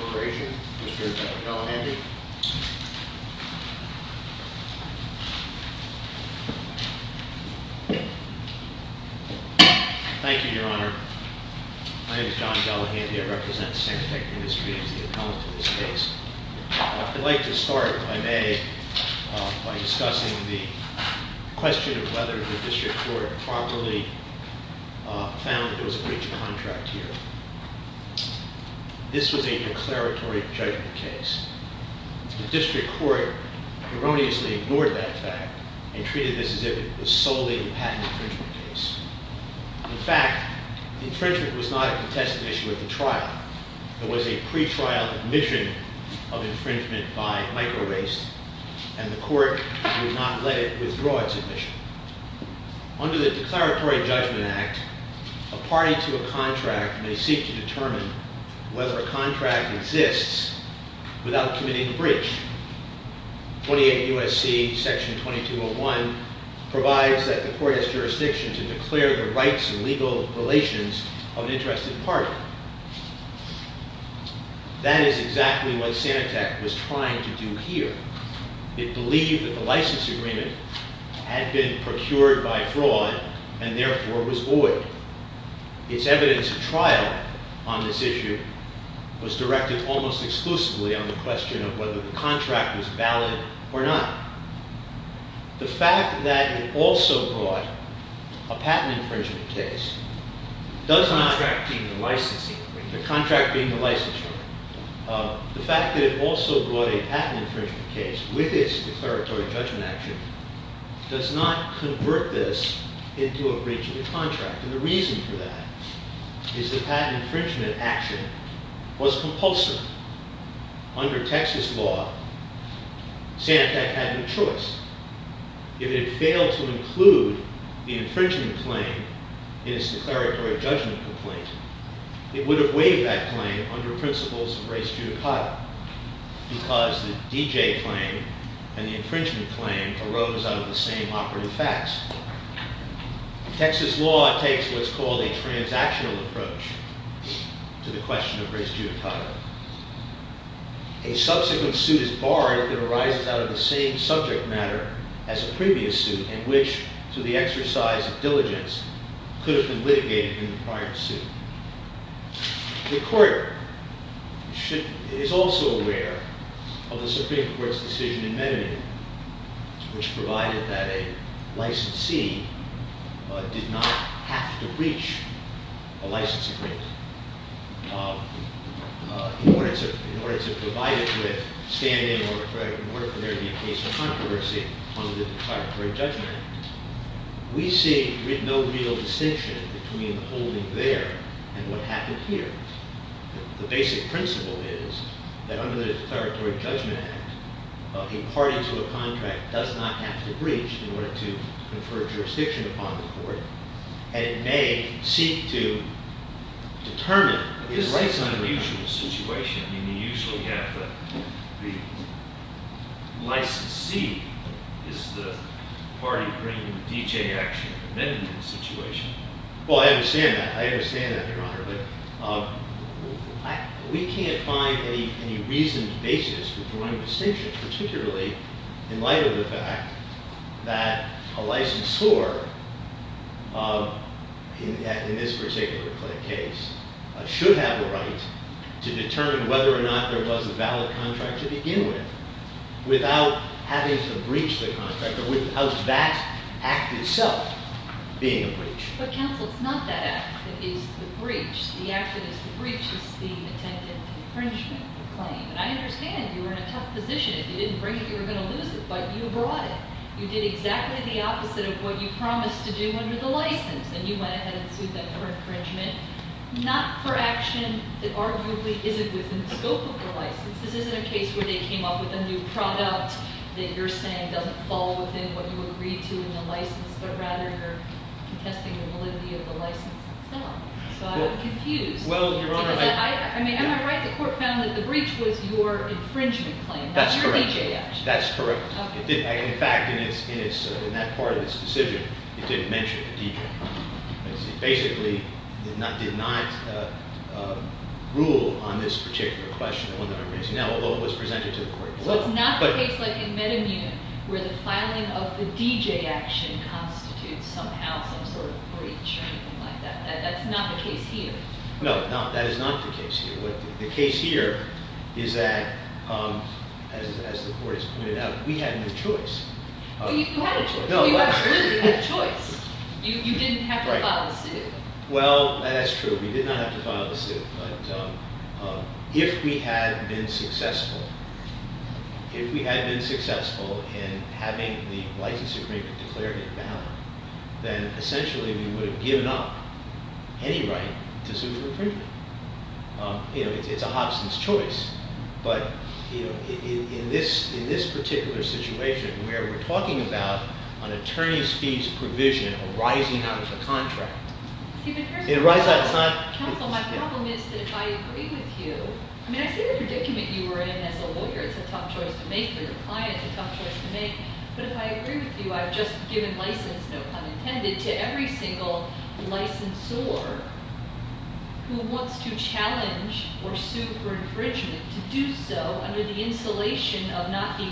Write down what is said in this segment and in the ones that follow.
Corporation, Mr. John Gallaghandi. Thank you, your honor. My name is John Gallaghandi, I represent Sanitec Industries, the accountant of this case. I would like to start by making by discussing the question of whether the district court properly found that there was a breach of contract here. This was a declaratory judgment case. The district court erroneously ignored that fact and treated this as if it was solely a patent infringement case. In fact, the infringement was not a contested issue at the trial. There was a court would not let it withdraw its admission. Under the declaratory judgment act, a party to a contract may seek to determine whether a contract exists without committing a breach. 28 U.S.C. Section 2201 provides that the court has jurisdiction to declare the rights and It believed that the license agreement had been procured by fraud, and therefore was void. Its evidence at trial on this issue was directed almost exclusively on the question of whether the contract was valid or not. The fact that it also brought a patent infringement case with its declaratory judgment action does not convert this into a breach of contract. And the reason for that is the patent infringement action was compulsive. Under Texas law, Sanitec had no choice. If it had failed to include the infringement claim in its declaratory judgment complaint, it would have waived that claim under principles of race judicata, because the D.J. claim and the infringement claim arose out of the same operative facts. Texas law takes what's called a transactional approach to the question of race judicata. A subsequent suit is barred if it arises out of the same subject matter as a previous suit, and which, through the exercise of diligence, could have been litigated in the prior suit. The court is also aware of the Supreme Court's decision in Menendez, which provided that a licensee did not have to breach a license agreement in order to provide it with standing or in order for there to be a case of controversy under the declaratory judgment act. We see no real distinction between the holding there and what happened here. The basic principle is that under the declaratory judgment act, a party to a contract does not have to breach in order to confer jurisdiction upon the court, and it may seek to determine the rights of the contract. This is an unusual situation. I mean, you usually have the licensee is the party bringing the D.J. action in a Menendez situation. Well, I understand that. I understand that, Your Honor. But we can't find any reasoned basis for drawing distinctions, particularly in light of the fact that a licensor in this particular case should have the right to determine whether or not there was a valid contract to begin with without having to breach the contract, without that act itself being a breach. But counsel, it's not that act that is the breach. The act that is the breach is the attempted infringement claim. And I understand you were in a tough position. If you didn't bring it, you were going to lose it, but you brought it. You did exactly the opposite of what you promised to do under the license, and you went ahead and sued them for infringement, not for action that arguably isn't within the scope of the license. This isn't a case where they came up with a new product that you're saying doesn't fall within what you were contesting the validity of the license itself. So I'm confused. Well, Your Honor, I... I mean, am I right? The court found that the breach was your infringement claim, not your D.J. action. That's correct. That's correct. In fact, in that part of this decision, it didn't mention the D.J. It basically did not rule on this particular question, the one that I'm raising now, although it was presented to the court. So it's not a case like in Metamune where the filing of the D.J. action constitutes somehow some sort of breach or anything like that. That's not the case here. No, that is not the case here. The case here is that, as the court has pointed out, we had no choice. You had a choice. You absolutely had a choice. You didn't have to file the suit. Well, that's true. We did not have to file the suit. But if we had been successful, if we had been successful in having the license agreement declared in ballot, then essentially we would have given up any right to suit for infringement. You know, it's a Hobson's choice. But, you know, in this particular situation where we're talking about an attorney's fees provision arising out of a contract. Counsel, my problem is that if I agree with you, I mean, I see the predicament you were in as a lawyer. It's a tough choice to make for your client. It's a tough choice to make. But if I agree with you, I've just given license, no pun intended, to every single licensor who wants to challenge or sue for infringement to do so under the insulation of not being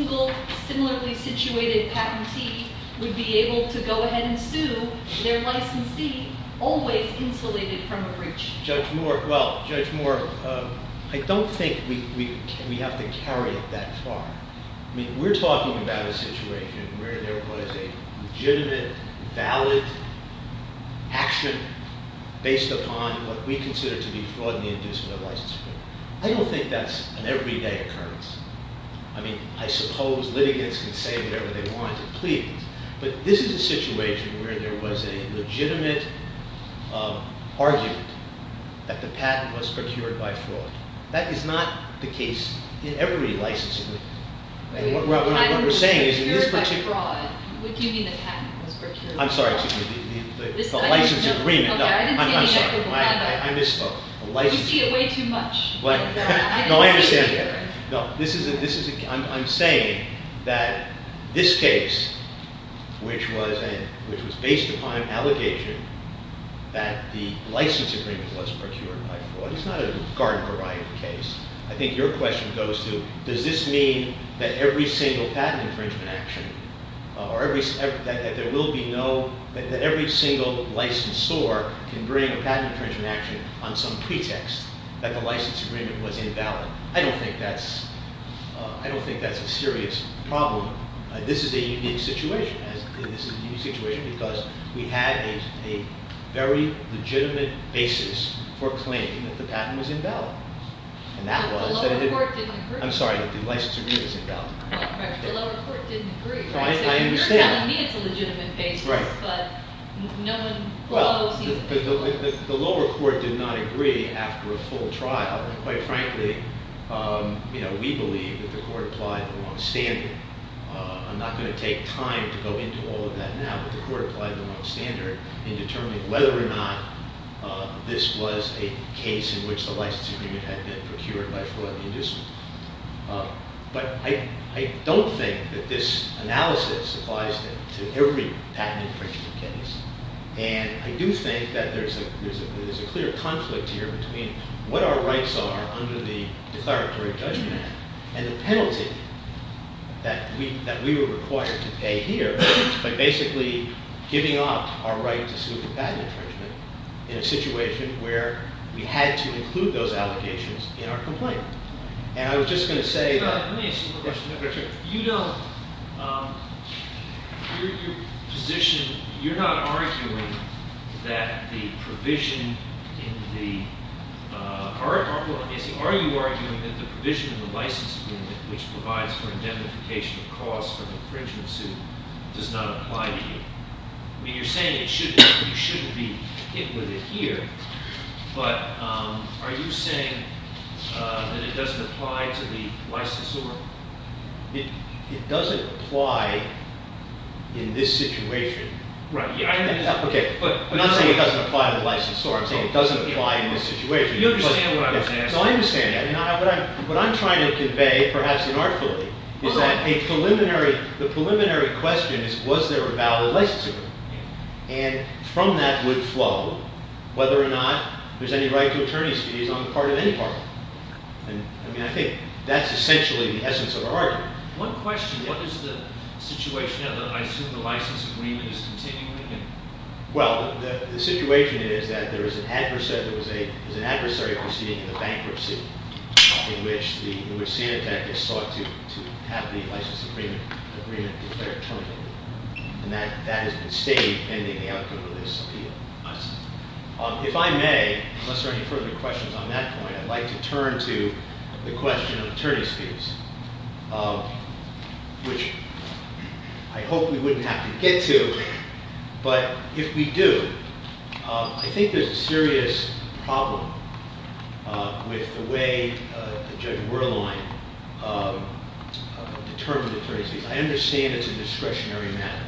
a similarly situated patentee would be able to go ahead and sue their licensee always insulated from a breach. Judge Moore, well, Judge Moore, I don't think we have to carry it that far. I mean, we're talking about a situation where there was a legitimate, valid action based upon what we consider to be fraud in the inducement of license agreement. I don't think that's an everyday occurrence. I mean, I suppose litigants can say whatever they want to plead. But this is a situation where there was a legitimate argument that the patent was procured by fraud. That is not the case in every license agreement. I don't think the patent was procured by fraud. I'm sorry. The license agreement. I'm sorry. I misspoke. You see it way too much. No, I understand. I'm saying that this case, which was based upon an allegation that the license agreement was procured by fraud, it's not a garden variety case. I think your question goes to, does this mean that every single patent infringement action, or that there will be no, that every single licensor can bring a patent infringement action on some license agreement was invalid. I don't think that's a serious problem. This is a unique situation. This is a unique situation because we had a very legitimate basis for claiming that the patent was invalid. The lower court didn't agree. I'm sorry. The license agreement is invalid. The lower court didn't agree. You're telling me it's a legitimate basis. Right. The lower court did not agree after a full trial. Quite frankly, we believe that the court applied the wrong standard. I'm not going to take time to go into all of that now, but the court applied the wrong standard in determining whether or not this was a case in which the license agreement had been procured by fraud and indecency. But I don't think that this analysis applies to every patent infringement case. And I do think that there's a clear conflict here between what our rights are under the declaratory judgment and the penalty that we were required to pay here by basically giving up our right to sue for patent infringement in a situation where we had to include those I was just going to say Let me ask you a question. You don't, your position, you're not arguing that the provision in the, are you arguing that the provision in the license agreement which provides for indemnification of cause for the infringement suit does not apply to you? You're saying you shouldn't be hit with it here, but are you saying that it doesn't apply to the licensor? It doesn't apply in this situation. Right. Okay. I'm not saying it doesn't apply to the licensor. I'm saying it doesn't apply in this situation. You understand what I'm saying. So I understand. What I'm trying to convey, perhaps inartfully, is that a preliminary, the preliminary question is was there a valid license agreement? And from that would flow whether or not there's any right to attorney's fees on the part of any partner. And, I mean, I think that's essentially the essence of our argument. One question. What is the situation now that I assume the license agreement is continuing? Well, the situation is that there is an adversary proceeding in the bankruptcy in which the Sanitec is sought to have the license agreement declared terminated. And that has been stayed pending the outcome of this appeal. I see. If I may, unless there are any further questions on that point, I'd like to turn to the question of attorney's fees, which I hope we wouldn't have to get to. But if we do, I think there's a serious problem with the way the Judge Werlein determined attorney's fees. I understand it's a discretionary matter.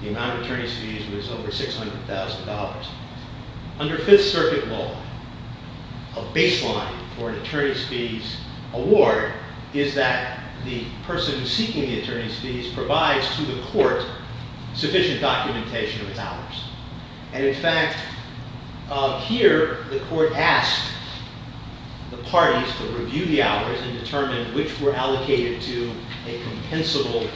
The amount of attorney's fees was over $600,000. Under Fifth Circuit law, a baseline for an attorney's fees award is that the person seeking the attorney's fees provides to the court sufficient documentation of its hours. And, in fact, here the court asked the parties to review the hours and determine which were allocated to a compensable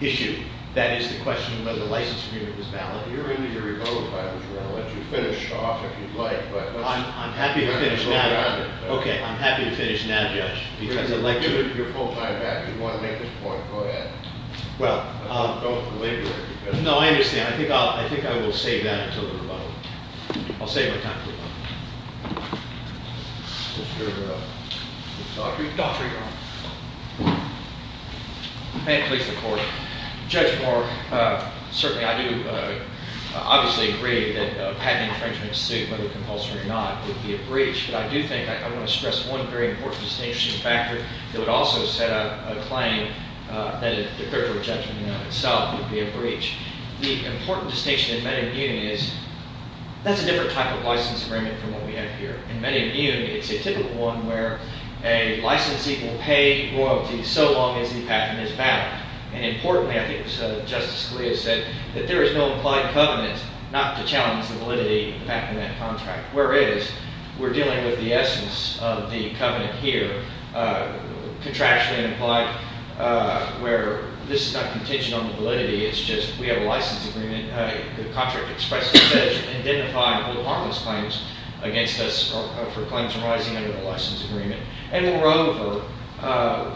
issue. That is the question of whether the license agreement was valid. You're going to need a rebuttal time. We're going to let you finish off if you'd like. I'm happy to finish now. Okay. I'm happy to finish now, Judge. Because I'd like to- Give it your full time back. If you want to make this point, go ahead. Well- Don't delay it. No, I understand. I think I will save that until the rebuttal. I'll save my time for the rebuttal. Mr. Daugherty? Daugherty, Your Honor. May it please the Court. Judge Moore, certainly I do obviously agree that a patent infringement suit, whether compulsory or not, would be a breach. But I do think I want to stress one very important distinction factor that would also set out a claim that a declaratory judgment in and of itself would be a breach. The important distinction in Med-Immune is that's a different type of license agreement from what we have here. In Med-Immune, it's a typical one where a licensee will pay royalty so long as the patent is valid. And importantly, I think Justice Scalia said that there is no implied covenant not to challenge the validity of the patent in that contract, whereas we're dealing with the essence of the covenant here, contractually implied, where this is not contingent on the validity. It's just we have a license agreement. And the contract expressly says, identify little harmless claims against us for claims arising under the license agreement. And moreover,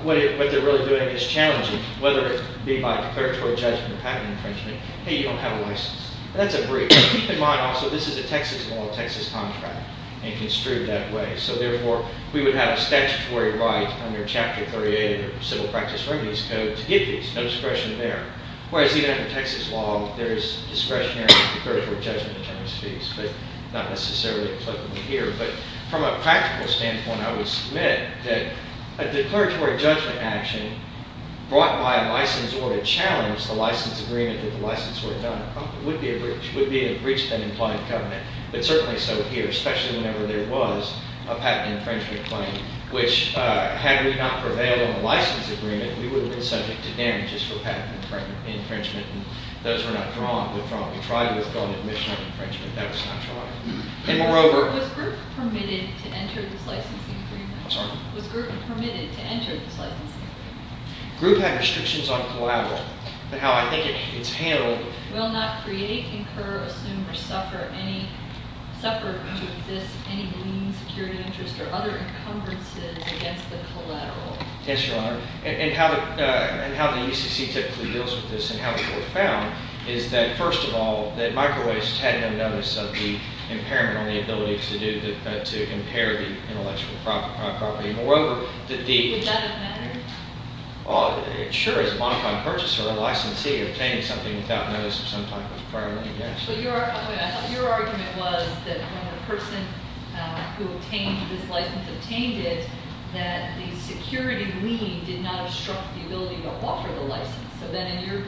what they're really doing is challenging, whether it be by declaratory judgment or patent infringement, hey, you don't have a license. That's a breach. Keep in mind also this is a Texas law, Texas contract, and construed that way. So therefore, we would have a statutory right under Chapter 38 of the Civil Practice Remedies Code to get these. No suppression there. Whereas even under Texas law, there is discretionary declaratory judgment in terms of these, but not necessarily applicable here. But from a practical standpoint, I would submit that a declaratory judgment action brought by a license order to challenge the license agreement that the license were done would be a breach, would be a breach of an implied covenant, but certainly so here, especially whenever there was a patent infringement claim, which had we not prevailed on the license agreement, we would have been subject to damages for patent infringement, and those were not drawn. We tried to withdraw an admission on infringement. That was not drawn. And moreover- Was group permitted to enter this licensing agreement? I'm sorry? Was group permitted to enter this licensing agreement? Group had restrictions on collateral. But how I think it's handled- Will not create, incur, assume, or suffer to exist any lien security interest or other encumbrances against the collateral. Yes, Your Honor. And how the UCC typically deals with this and how it was found is that, first of all, that microwaste had no notice of the impairment on the ability to do, to impair the intellectual property. Moreover, that the- Would that have mattered? Sure, as a modified purchaser, a licensee obtaining something without notice of some type of impairment, yes. I thought your argument was that when the person who obtained this license obtained it, that the security lien did not obstruct the ability to offer the license. So then in your,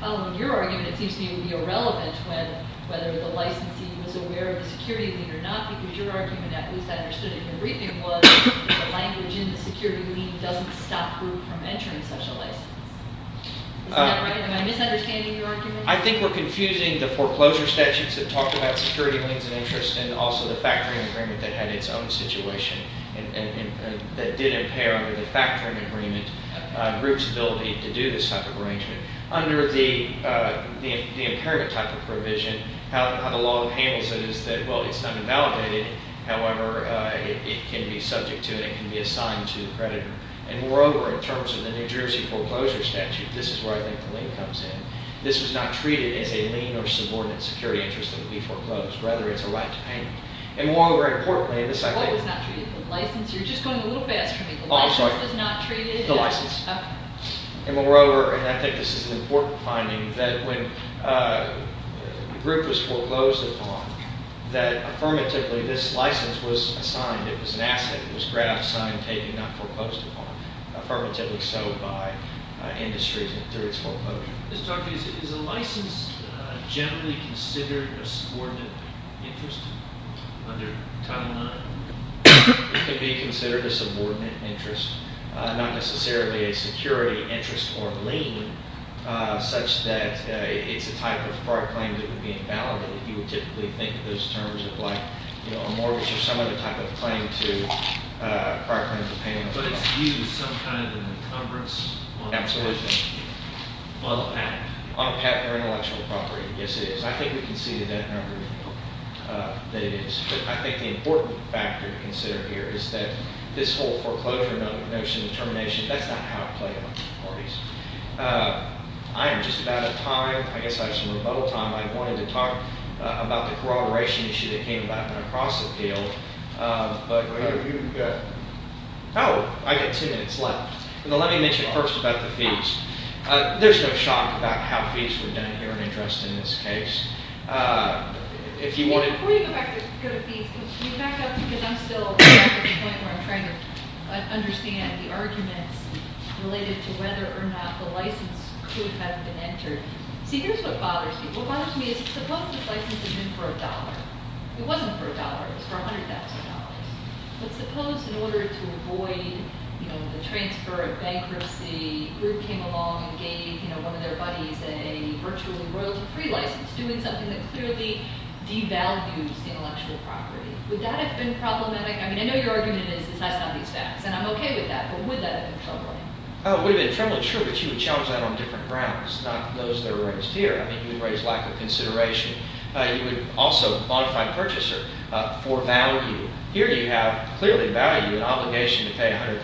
following your argument, it seems to me it would be irrelevant when whether the licensee was aware of the security lien or not. Because your argument, at least I understood it in your reading, was the language in the security lien doesn't stop group from entering such a license. Is that right? Am I misunderstanding your argument? I think we're confusing the foreclosure statutes that talked about security liens and interest and also the factoring agreement that had its own situation and that did impair under the factoring agreement group's ability to do this type of arrangement. Under the impairment type of provision, how the law handles it is that, well, it's not invalidated. However, it can be subject to and it can be assigned to the creditor. And moreover, in terms of the New Jersey foreclosure statute, this is where I think the lien comes in. This was not treated as a lien or subordinate security interest that would be foreclosed. Rather, it's a right to payment. And moreover, importantly, this I think... The law was not treated? The license? You're just going a little fast for me. The license was not treated? The license. Okay. And moreover, and I think this is an important finding, that when the group was foreclosed upon, that affirmatively, this license was assigned. It was an asset. It was grabbed, signed, taken, not foreclosed upon. Affirmatively so by industries and through its foreclosure. Is a license generally considered a subordinate interest under Title IX? It could be considered a subordinate interest, not necessarily a security interest or lien, such that it's a type of prior claim that would be invalidated. You would typically think of those terms of like a mortgage or some other type of claim to prior claim to payment. But it's viewed as some kind of an encumbrance? Absolutely. On a patent? On a patent or intellectual property. Yes, it is. I think we can see the net number that it is. But I think the important factor to consider here is that this whole foreclosure notion of termination, that's not how it played out in the parties. I am just about out of time. I guess I have some rebuttal time. I wanted to talk about the corroboration issue that came about across the field. But... You've got... Oh, I've got two minutes left. Let me mention first about the fees. There's no shock about how fees were done here in interest in this case. If you want to... Before you go back to fees, can you back up because I'm still at the point where I'm trying to understand the arguments related to whether or not the license could have been entered. See, here's what bothers me. What bothers me is suppose this license is in for a dollar. It wasn't for a dollar. It was for $100,000. But suppose in order to avoid the transfer of bankruptcy, a group came along and gave one of their buddies a virtually royalty-free license doing something that clearly devalues intellectual property. Would that have been problematic? I mean, I know your argument is it's nice to have these facts, and I'm okay with that, but would that have been troubling? It would have been troubling, sure, but you would challenge that on different grounds, not those that are raised here. I mean, you would raise lack of consideration. You would also modify purchaser for value. Here you have clearly value and obligation to pay $100,000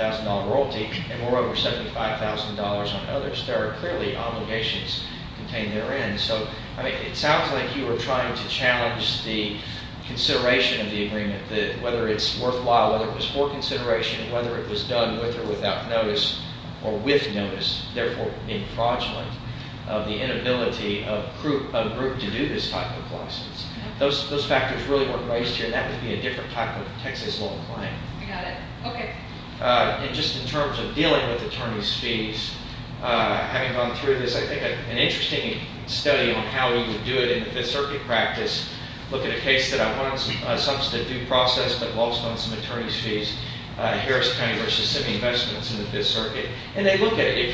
royalty and moreover $75,000 on others. There are clearly obligations contained therein. So it sounds like you are trying to challenge the consideration of the agreement, whether it's worthwhile, whether it was for consideration, whether it was done with or without notice or with notice, therefore being fraudulent of the inability of a group to do this type of license. Those factors really weren't raised here, and that would be a different type of Texas law claim. I got it. Okay. And just in terms of dealing with attorney's fees, having gone through this, I think an interesting study on how you would do it in the Fifth Circuit practice, look at a case that I want to substitute process that involves some attorney's fees, Harris County v. Simi Investments in the Fifth Circuit, and they look at it.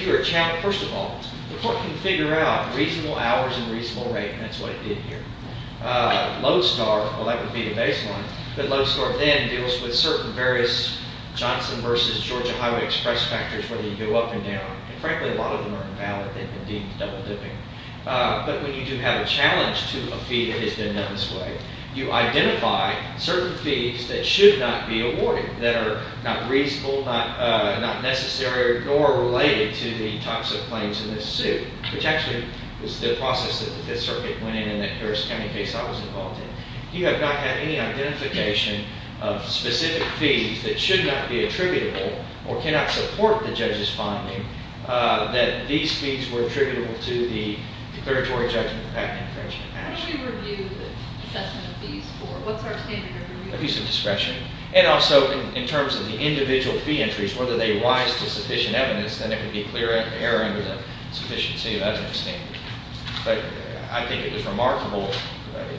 First of all, the court can figure out reasonable hours and reasonable rate, and that's what it did here. Lodestar, well, that would be the baseline, but Lodestar then deals with certain various Johnson v. Georgia Highway Express factors where they go up and down. And frankly, a lot of them are invalid. They've been deemed double-dipping. But when you do have a challenge to a fee that has been done this way, you identify certain fees that should not be awarded, that are not reasonable, not necessary, nor related to the types of claims in this suit, which actually is the process that the Fifth Circuit went in and that Harris County case I was involved in. You have not had any identification of specific fees that should not be attributable or cannot support the judge's finding that these fees were attributable to the declaratory judgment of patent infringement. How do we review the assessment of fees for? What's our standard of review? Abuse of discretion. And also in terms of the individual fee entries, whether they rise to sufficient evidence, then it would be clear error under the sufficiency of evidence standard. But I think it was remarkable.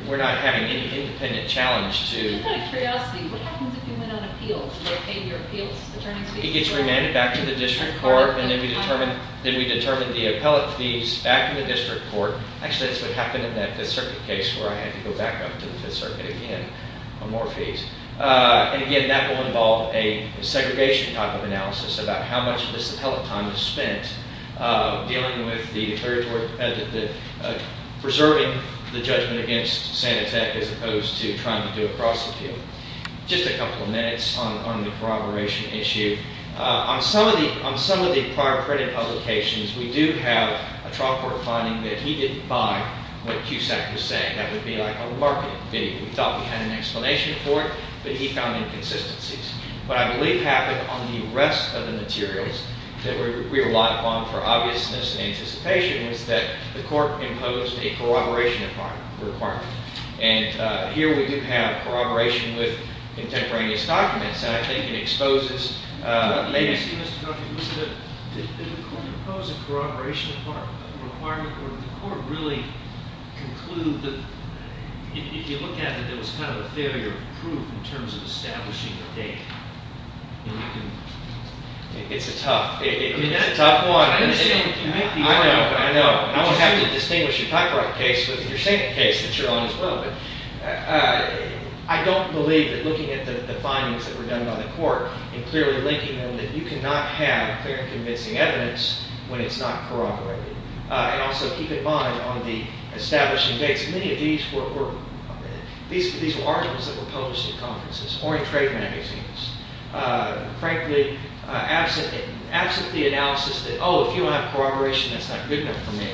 We're not having any independent challenge to... Just out of curiosity, what happens if you went on appeals? Do they pay your appeals attorney fees? It gets remanded back to the district court, and then we determine the appellate fees back in the district court. Actually, that's what happened in that Fifth Circuit case where I had to go back up to the Fifth Circuit again for more fees. And again, that will involve a segregation type of analysis about how much of this appellate time is spent dealing with the declaratory... preserving the judgment against Sanitec as opposed to trying to do a prosecute. Just a couple of minutes on the corroboration issue. On some of the prior printed publications, we do have a trial court finding that he didn't buy what CUSAC was saying. That would be like a marketing video. We thought we had an explanation for it, but he found inconsistencies. What I believe happened on the rest of the materials that we relied upon for obviousness and anticipation was that the court imposed a corroboration requirement. And here we do have corroboration with contemporaneous documents, and I think it exposes... Excuse me, Mr. Duncan. Did the court impose a corroboration requirement or did the court really conclude that... If you look at it, there was kind of a failure of proof in terms of establishing the date. It's a tough... It's a tough one. I know. I know. I won't have to distinguish your copyright case with your Sanitec case that you're on as well, but... I don't believe that looking at the findings that were done by the court and clearly linking them, that you cannot have clear and convincing evidence when it's not corroborated. And also keep in mind, on the establishing dates, many of these were articles that were published in conferences or in trade magazines. Frankly, absent the analysis that, oh, if you don't have corroboration, that's not good enough for me,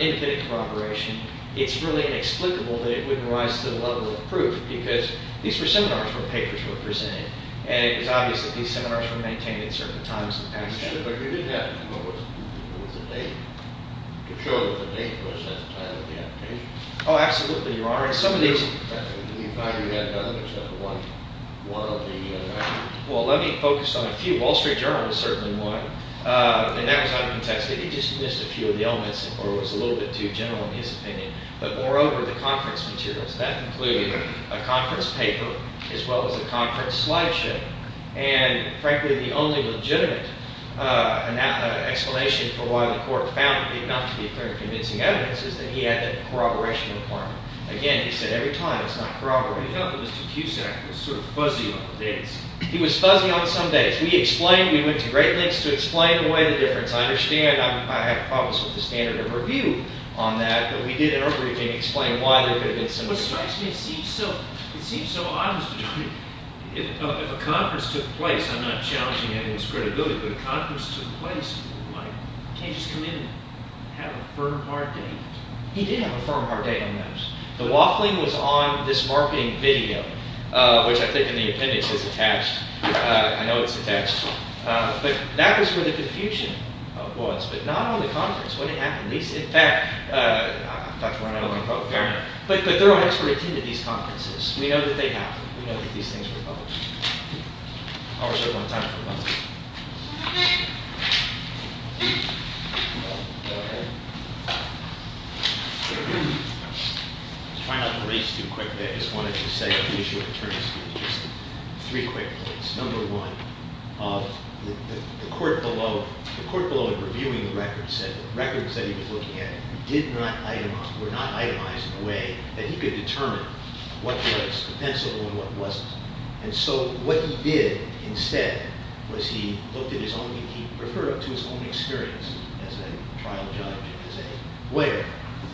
independent corroboration, it's really inexplicable that it wouldn't rise to the level of proof because these were seminars where papers were presented, and it was obvious that these seminars were maintained at certain times in the past. What was the date? You're sure that the date was at the time of the application? Oh, absolutely, Your Honor. And some of these... The five you had done, except one, one of the... Well, let me focus on a few. Wall Street Journal was certainly one. And that was uncontested. It just missed a few of the elements or was a little bit too general in his opinion. But moreover, the conference materials, that included a conference paper as well as a conference slideshow. And frankly, the only legitimate explanation for why the court found it enough to be a very convincing evidence is that he had that corroboration requirement. Again, he said every time it's not corroborated. He felt that Mr. Cusack was sort of fuzzy on the dates. He was fuzzy on some dates. We explained. We went to great lengths to explain away the difference. I understand. I have problems with the standard of review on that, but we did in our briefing explain why there could have been some... What strikes me, it seems so odd, Mr. Judge, is that if a conference took place, I'm not challenging anyone's credibility, but if a conference took place, you can't just come in and have a firm, hard date. He did have a firm, hard date on those. The waffling was on this marketing video, which I think in the appendix is attached. I know it's attached. But that was where the confusion was, but not on the conference. What had happened? In fact, I'm Dr. Ryan, I own the program, but there are experts who attended these conferences. We know that they happen. We know that these things were published. I'll reserve my time for a moment. I'll try not to race too quickly. I just wanted to say on the issue of attorneys' fees, just three quick points. Number one, the court below, the court below in reviewing the records said the records that he was looking at were not itemized in a way that he could determine what was defensible and what wasn't. And so what he did instead was he looked at his own, he referred to his own experience as a trial judge, as a lawyer,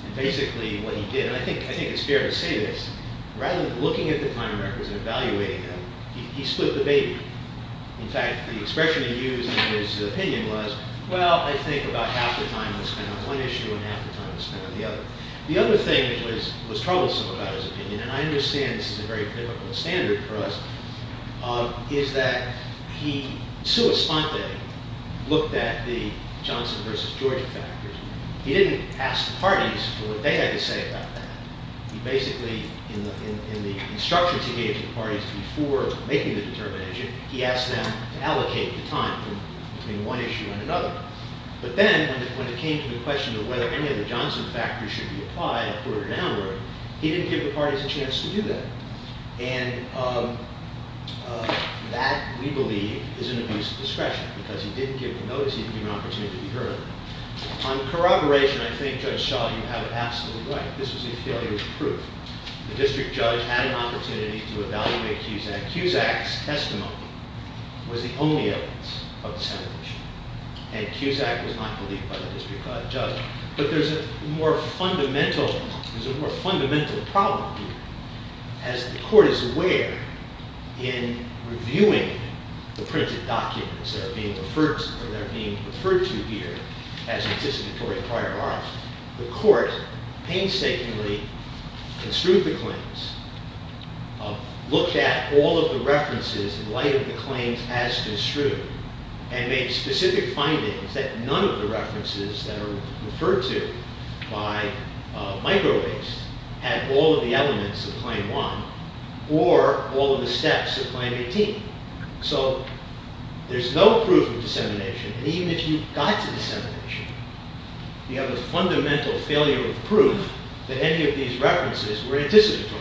and basically what he did, and I think it's fair to say this, rather than looking at the time records and evaluating them, he split the baby. In fact, the expression he used in his opinion was, well, I think about half the time was spent on one issue and half the time was spent on the other. The other thing that was troublesome about his opinion, and I understand this is a very difficult standard for us, is that he, sua sponte, looked at the Johnson versus Georgia factors. He didn't ask the parties for what they had to say about that. He basically, in the instructions he gave to the parties before making the determination, he asked them to allocate the time between one issue and another. But then, when it came to the question of whether any of the Johnson factors should be applied, upward or downward, he didn't give the parties a chance to do that. And that, we believe, is an abuse of discretion, because he didn't give the notice, he didn't give an opportunity to hear it. On corroboration, I think, Judge Shaw, you have it absolutely right. This was a failure of proof. The district judge had an opportunity to evaluate Cusack. Cusack's testimony was the only evidence of the sanitation, and Cusack was not believed by the district judge. But there's a more fundamental problem here. As the court is aware, in reviewing the printed documents that are being referred to here as participatory prior art, the court painstakingly construed the claims, looked at all of the references in light of the claims as construed, and made specific findings that none of the references that are referred to by micro-based had all of the elements of Claim 1 or all of the steps of Claim 18. So there's no proof of dissemination, and even if you got to dissemination, you have a fundamental failure of proof that any of these references were anticipatory.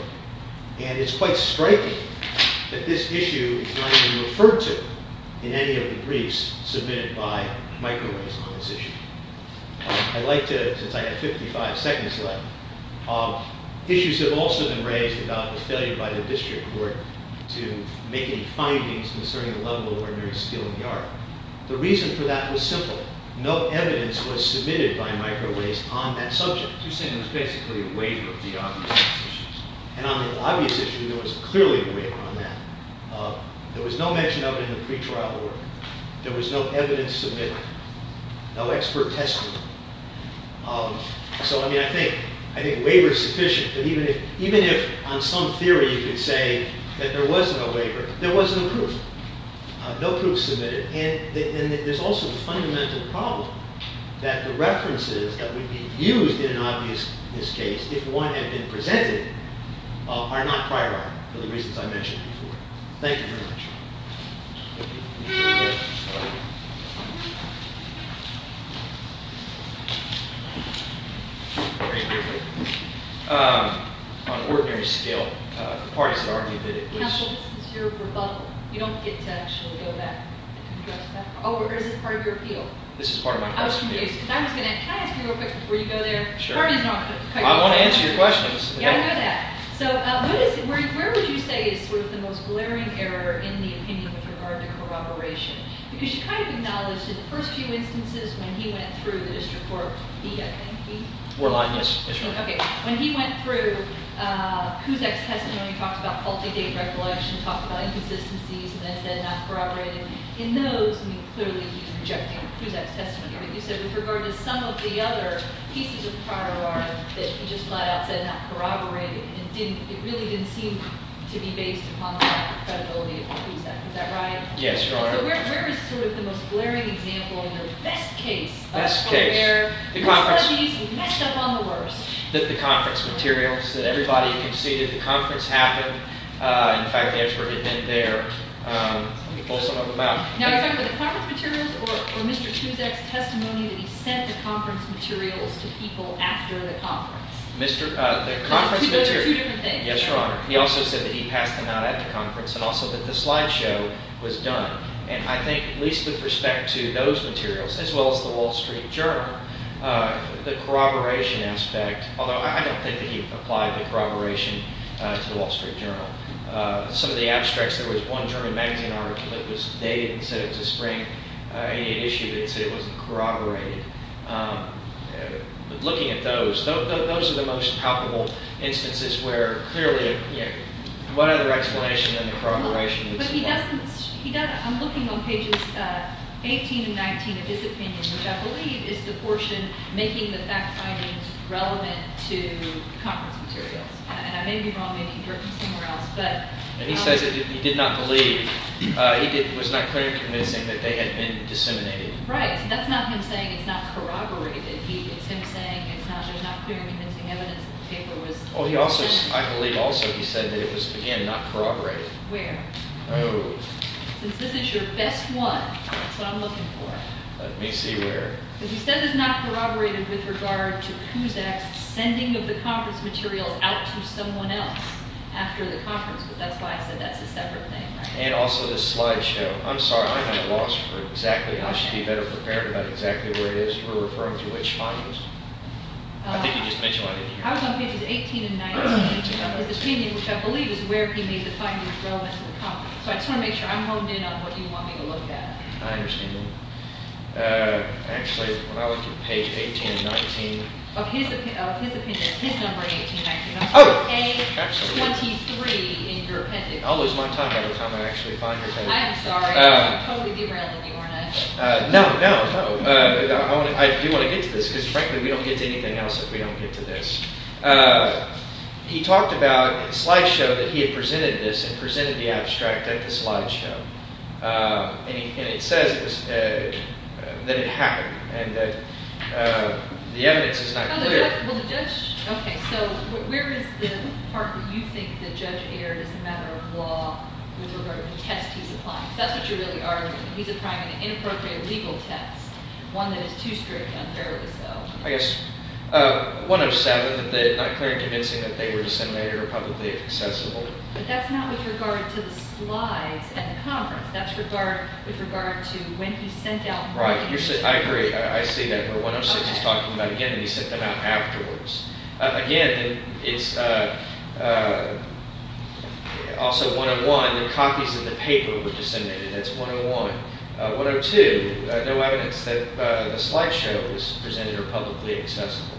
And it's quite striking that this issue is not even referred to in any of the briefs submitted by microwaves on this issue. I'd like to, since I have 55 seconds left, issues have also been raised about the failure by the district court to make any findings concerning the level of ordinary steel in the art. The reason for that was simple. No evidence was submitted by microwaves on that subject. You're saying it was basically a waiver of the obvious issues. And on the obvious issue, there was clearly a waiver on that. There was no mention of it in the pretrial order. There was no evidence submitted. No expert testimony. So, I mean, I think, I think waiver is sufficient. Even if, on some theory, you could say that there was no waiver, there was no proof. No proof submitted. And there's also the fundamental problem that the references that would be used in an obviousness case, if one had been presented, are not prioritized for the reasons I mentioned before. Thank you very much. On ordinary steel, the parties have argued that it was... Counsel, this is your rebuttal. You don't get to actually go back and address that. Oh, or is this part of your appeal? This is part of my appeal. Can I ask you real quick before you go there? I want to answer your questions. Yeah, I know that. So, where would you say is sort of the most glaring error in the opinion with regard to corroboration? Because you kind of acknowledged in the first few instances when he went through the district court... When he went through Kuzak's testimony, he talked about faulty date recollection, talked about inconsistencies, and then said not corroborating. In those, I mean, clearly he's rejecting Kuzak's testimony. But you said with regard to some of the other pieces of the prior order that he just flat-out said not corroborating. It really didn't seem to be based upon the credibility of Mr. Kuzak. Is that right? Yes, Your Honor. Where is sort of the most glaring example and the best case... Best case. ...of where he's messed up on the worst? The conference materials that everybody conceded. The conference happened. In fact, the expert had been there. Let me pull some of them out. Now, are you talking about the conference materials or Mr. Kuzak's testimony that he sent the conference materials to people after the conference? The conference materials. Yes, Your Honor. He also said that he passed them out at the conference and also that the slideshow was done. And I think, at least with respect to those materials as well as the Wall Street Journal, the corroboration aspect, although I don't think that he applied the corroboration to the Wall Street Journal. Some of the abstracts, there was one German magazine article that was dated and said it was a spring issue that said it wasn't corroborated. Looking at those, those are the most palpable instances where clearly, you know, what other explanation than the corroboration... But he doesn't... He doesn't... I'm looking on pages 18 and 19 of his opinion, which I believe is the portion making the fact findings relevant to the conference materials. And I may be wrong, maybe he'd written somewhere else, but... And he says that he did not believe... He was not clearly convincing that they had been disseminated. Right. That's not him saying it's not corroborated. It's him saying it's not... There's not clear convincing evidence that the paper was... Oh, he also... I believe also he said that it was, again, not corroborated. Where? Oh. Since this is your best one, that's what I'm looking for. Let me see where. Because he said it's not corroborated with regard to Cusack's sending of the conference materials out to someone else after the conference, but that's why I said that's a separate thing, right? And also this slideshow. I'm sorry, I'm at a loss for exactly... I should be better prepared about exactly where it is you were referring to, which findings. I think you just mentioned one in here. I was on pages 18 and 19 of his opinion, which I believe is where he made the findings relevant to the conference. So I just want to make sure I'm honed in on what you want me to look at. I understand. Actually, when I looked at page 18 and 19... Of his opinion, his number 18 and 19. Oh! Page 23 in your appendix. I'll lose my time every time I actually find your appendix. I am sorry. I'm totally derailing you, aren't I? No, no, no. I do want to get to this, because frankly, we don't get to anything else if we don't get to this. He talked about in the slideshow that he had presented this and presented the abstract at the slideshow. And it says that it happened and that the evidence is not clear. Oh, the judge... Okay, so where is the part that you think that Judge Ayer is a matter of law with regard to the test he's applying? Because that's what you're really arguing. He's applying an inappropriate legal test. One that is too strict on therapists, though. I guess 107, that they're not clear in convincing that they were disseminated or publicly accessible. But that's not with regard to the slides at the conference. That's with regard to when he sent out... Right. I agree. I see that. But 106, he's talking about again that he sent them out afterwards. Again, it's also 101. The copies of the paper were disseminated. That's 101. 102, no evidence that the slideshow was presented or publicly accessible.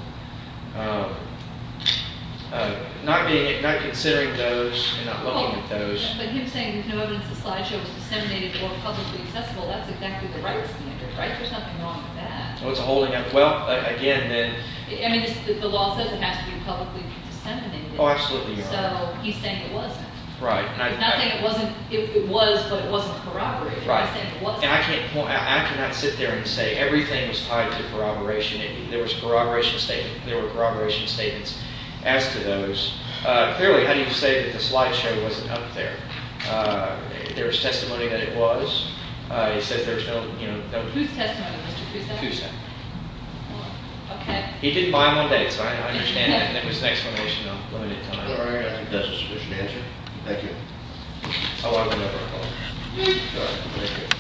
Not considering those and not looking at those... But he's saying there's no evidence the slideshow was disseminated or publicly accessible. That's exactly the right standard, right? There's nothing wrong with that. Well, it's a holding... Well, again, then... I mean, the law says it has to be publicly disseminated. Oh, absolutely. So he's saying it wasn't. Right. Not saying it was, but it wasn't corroborated. Right. I cannot sit there and say everything was tied to corroboration. There were corroboration statements as to those. Clearly, how do you say that the slideshow wasn't up there? There's testimony that it was. He says there's no... Whose testimony, Mr. Cusa? Cusa. Okay. He didn't buy my dates. I understand that. That was an explanation of limited time. All right. I think that's a sufficient answer. Thank you.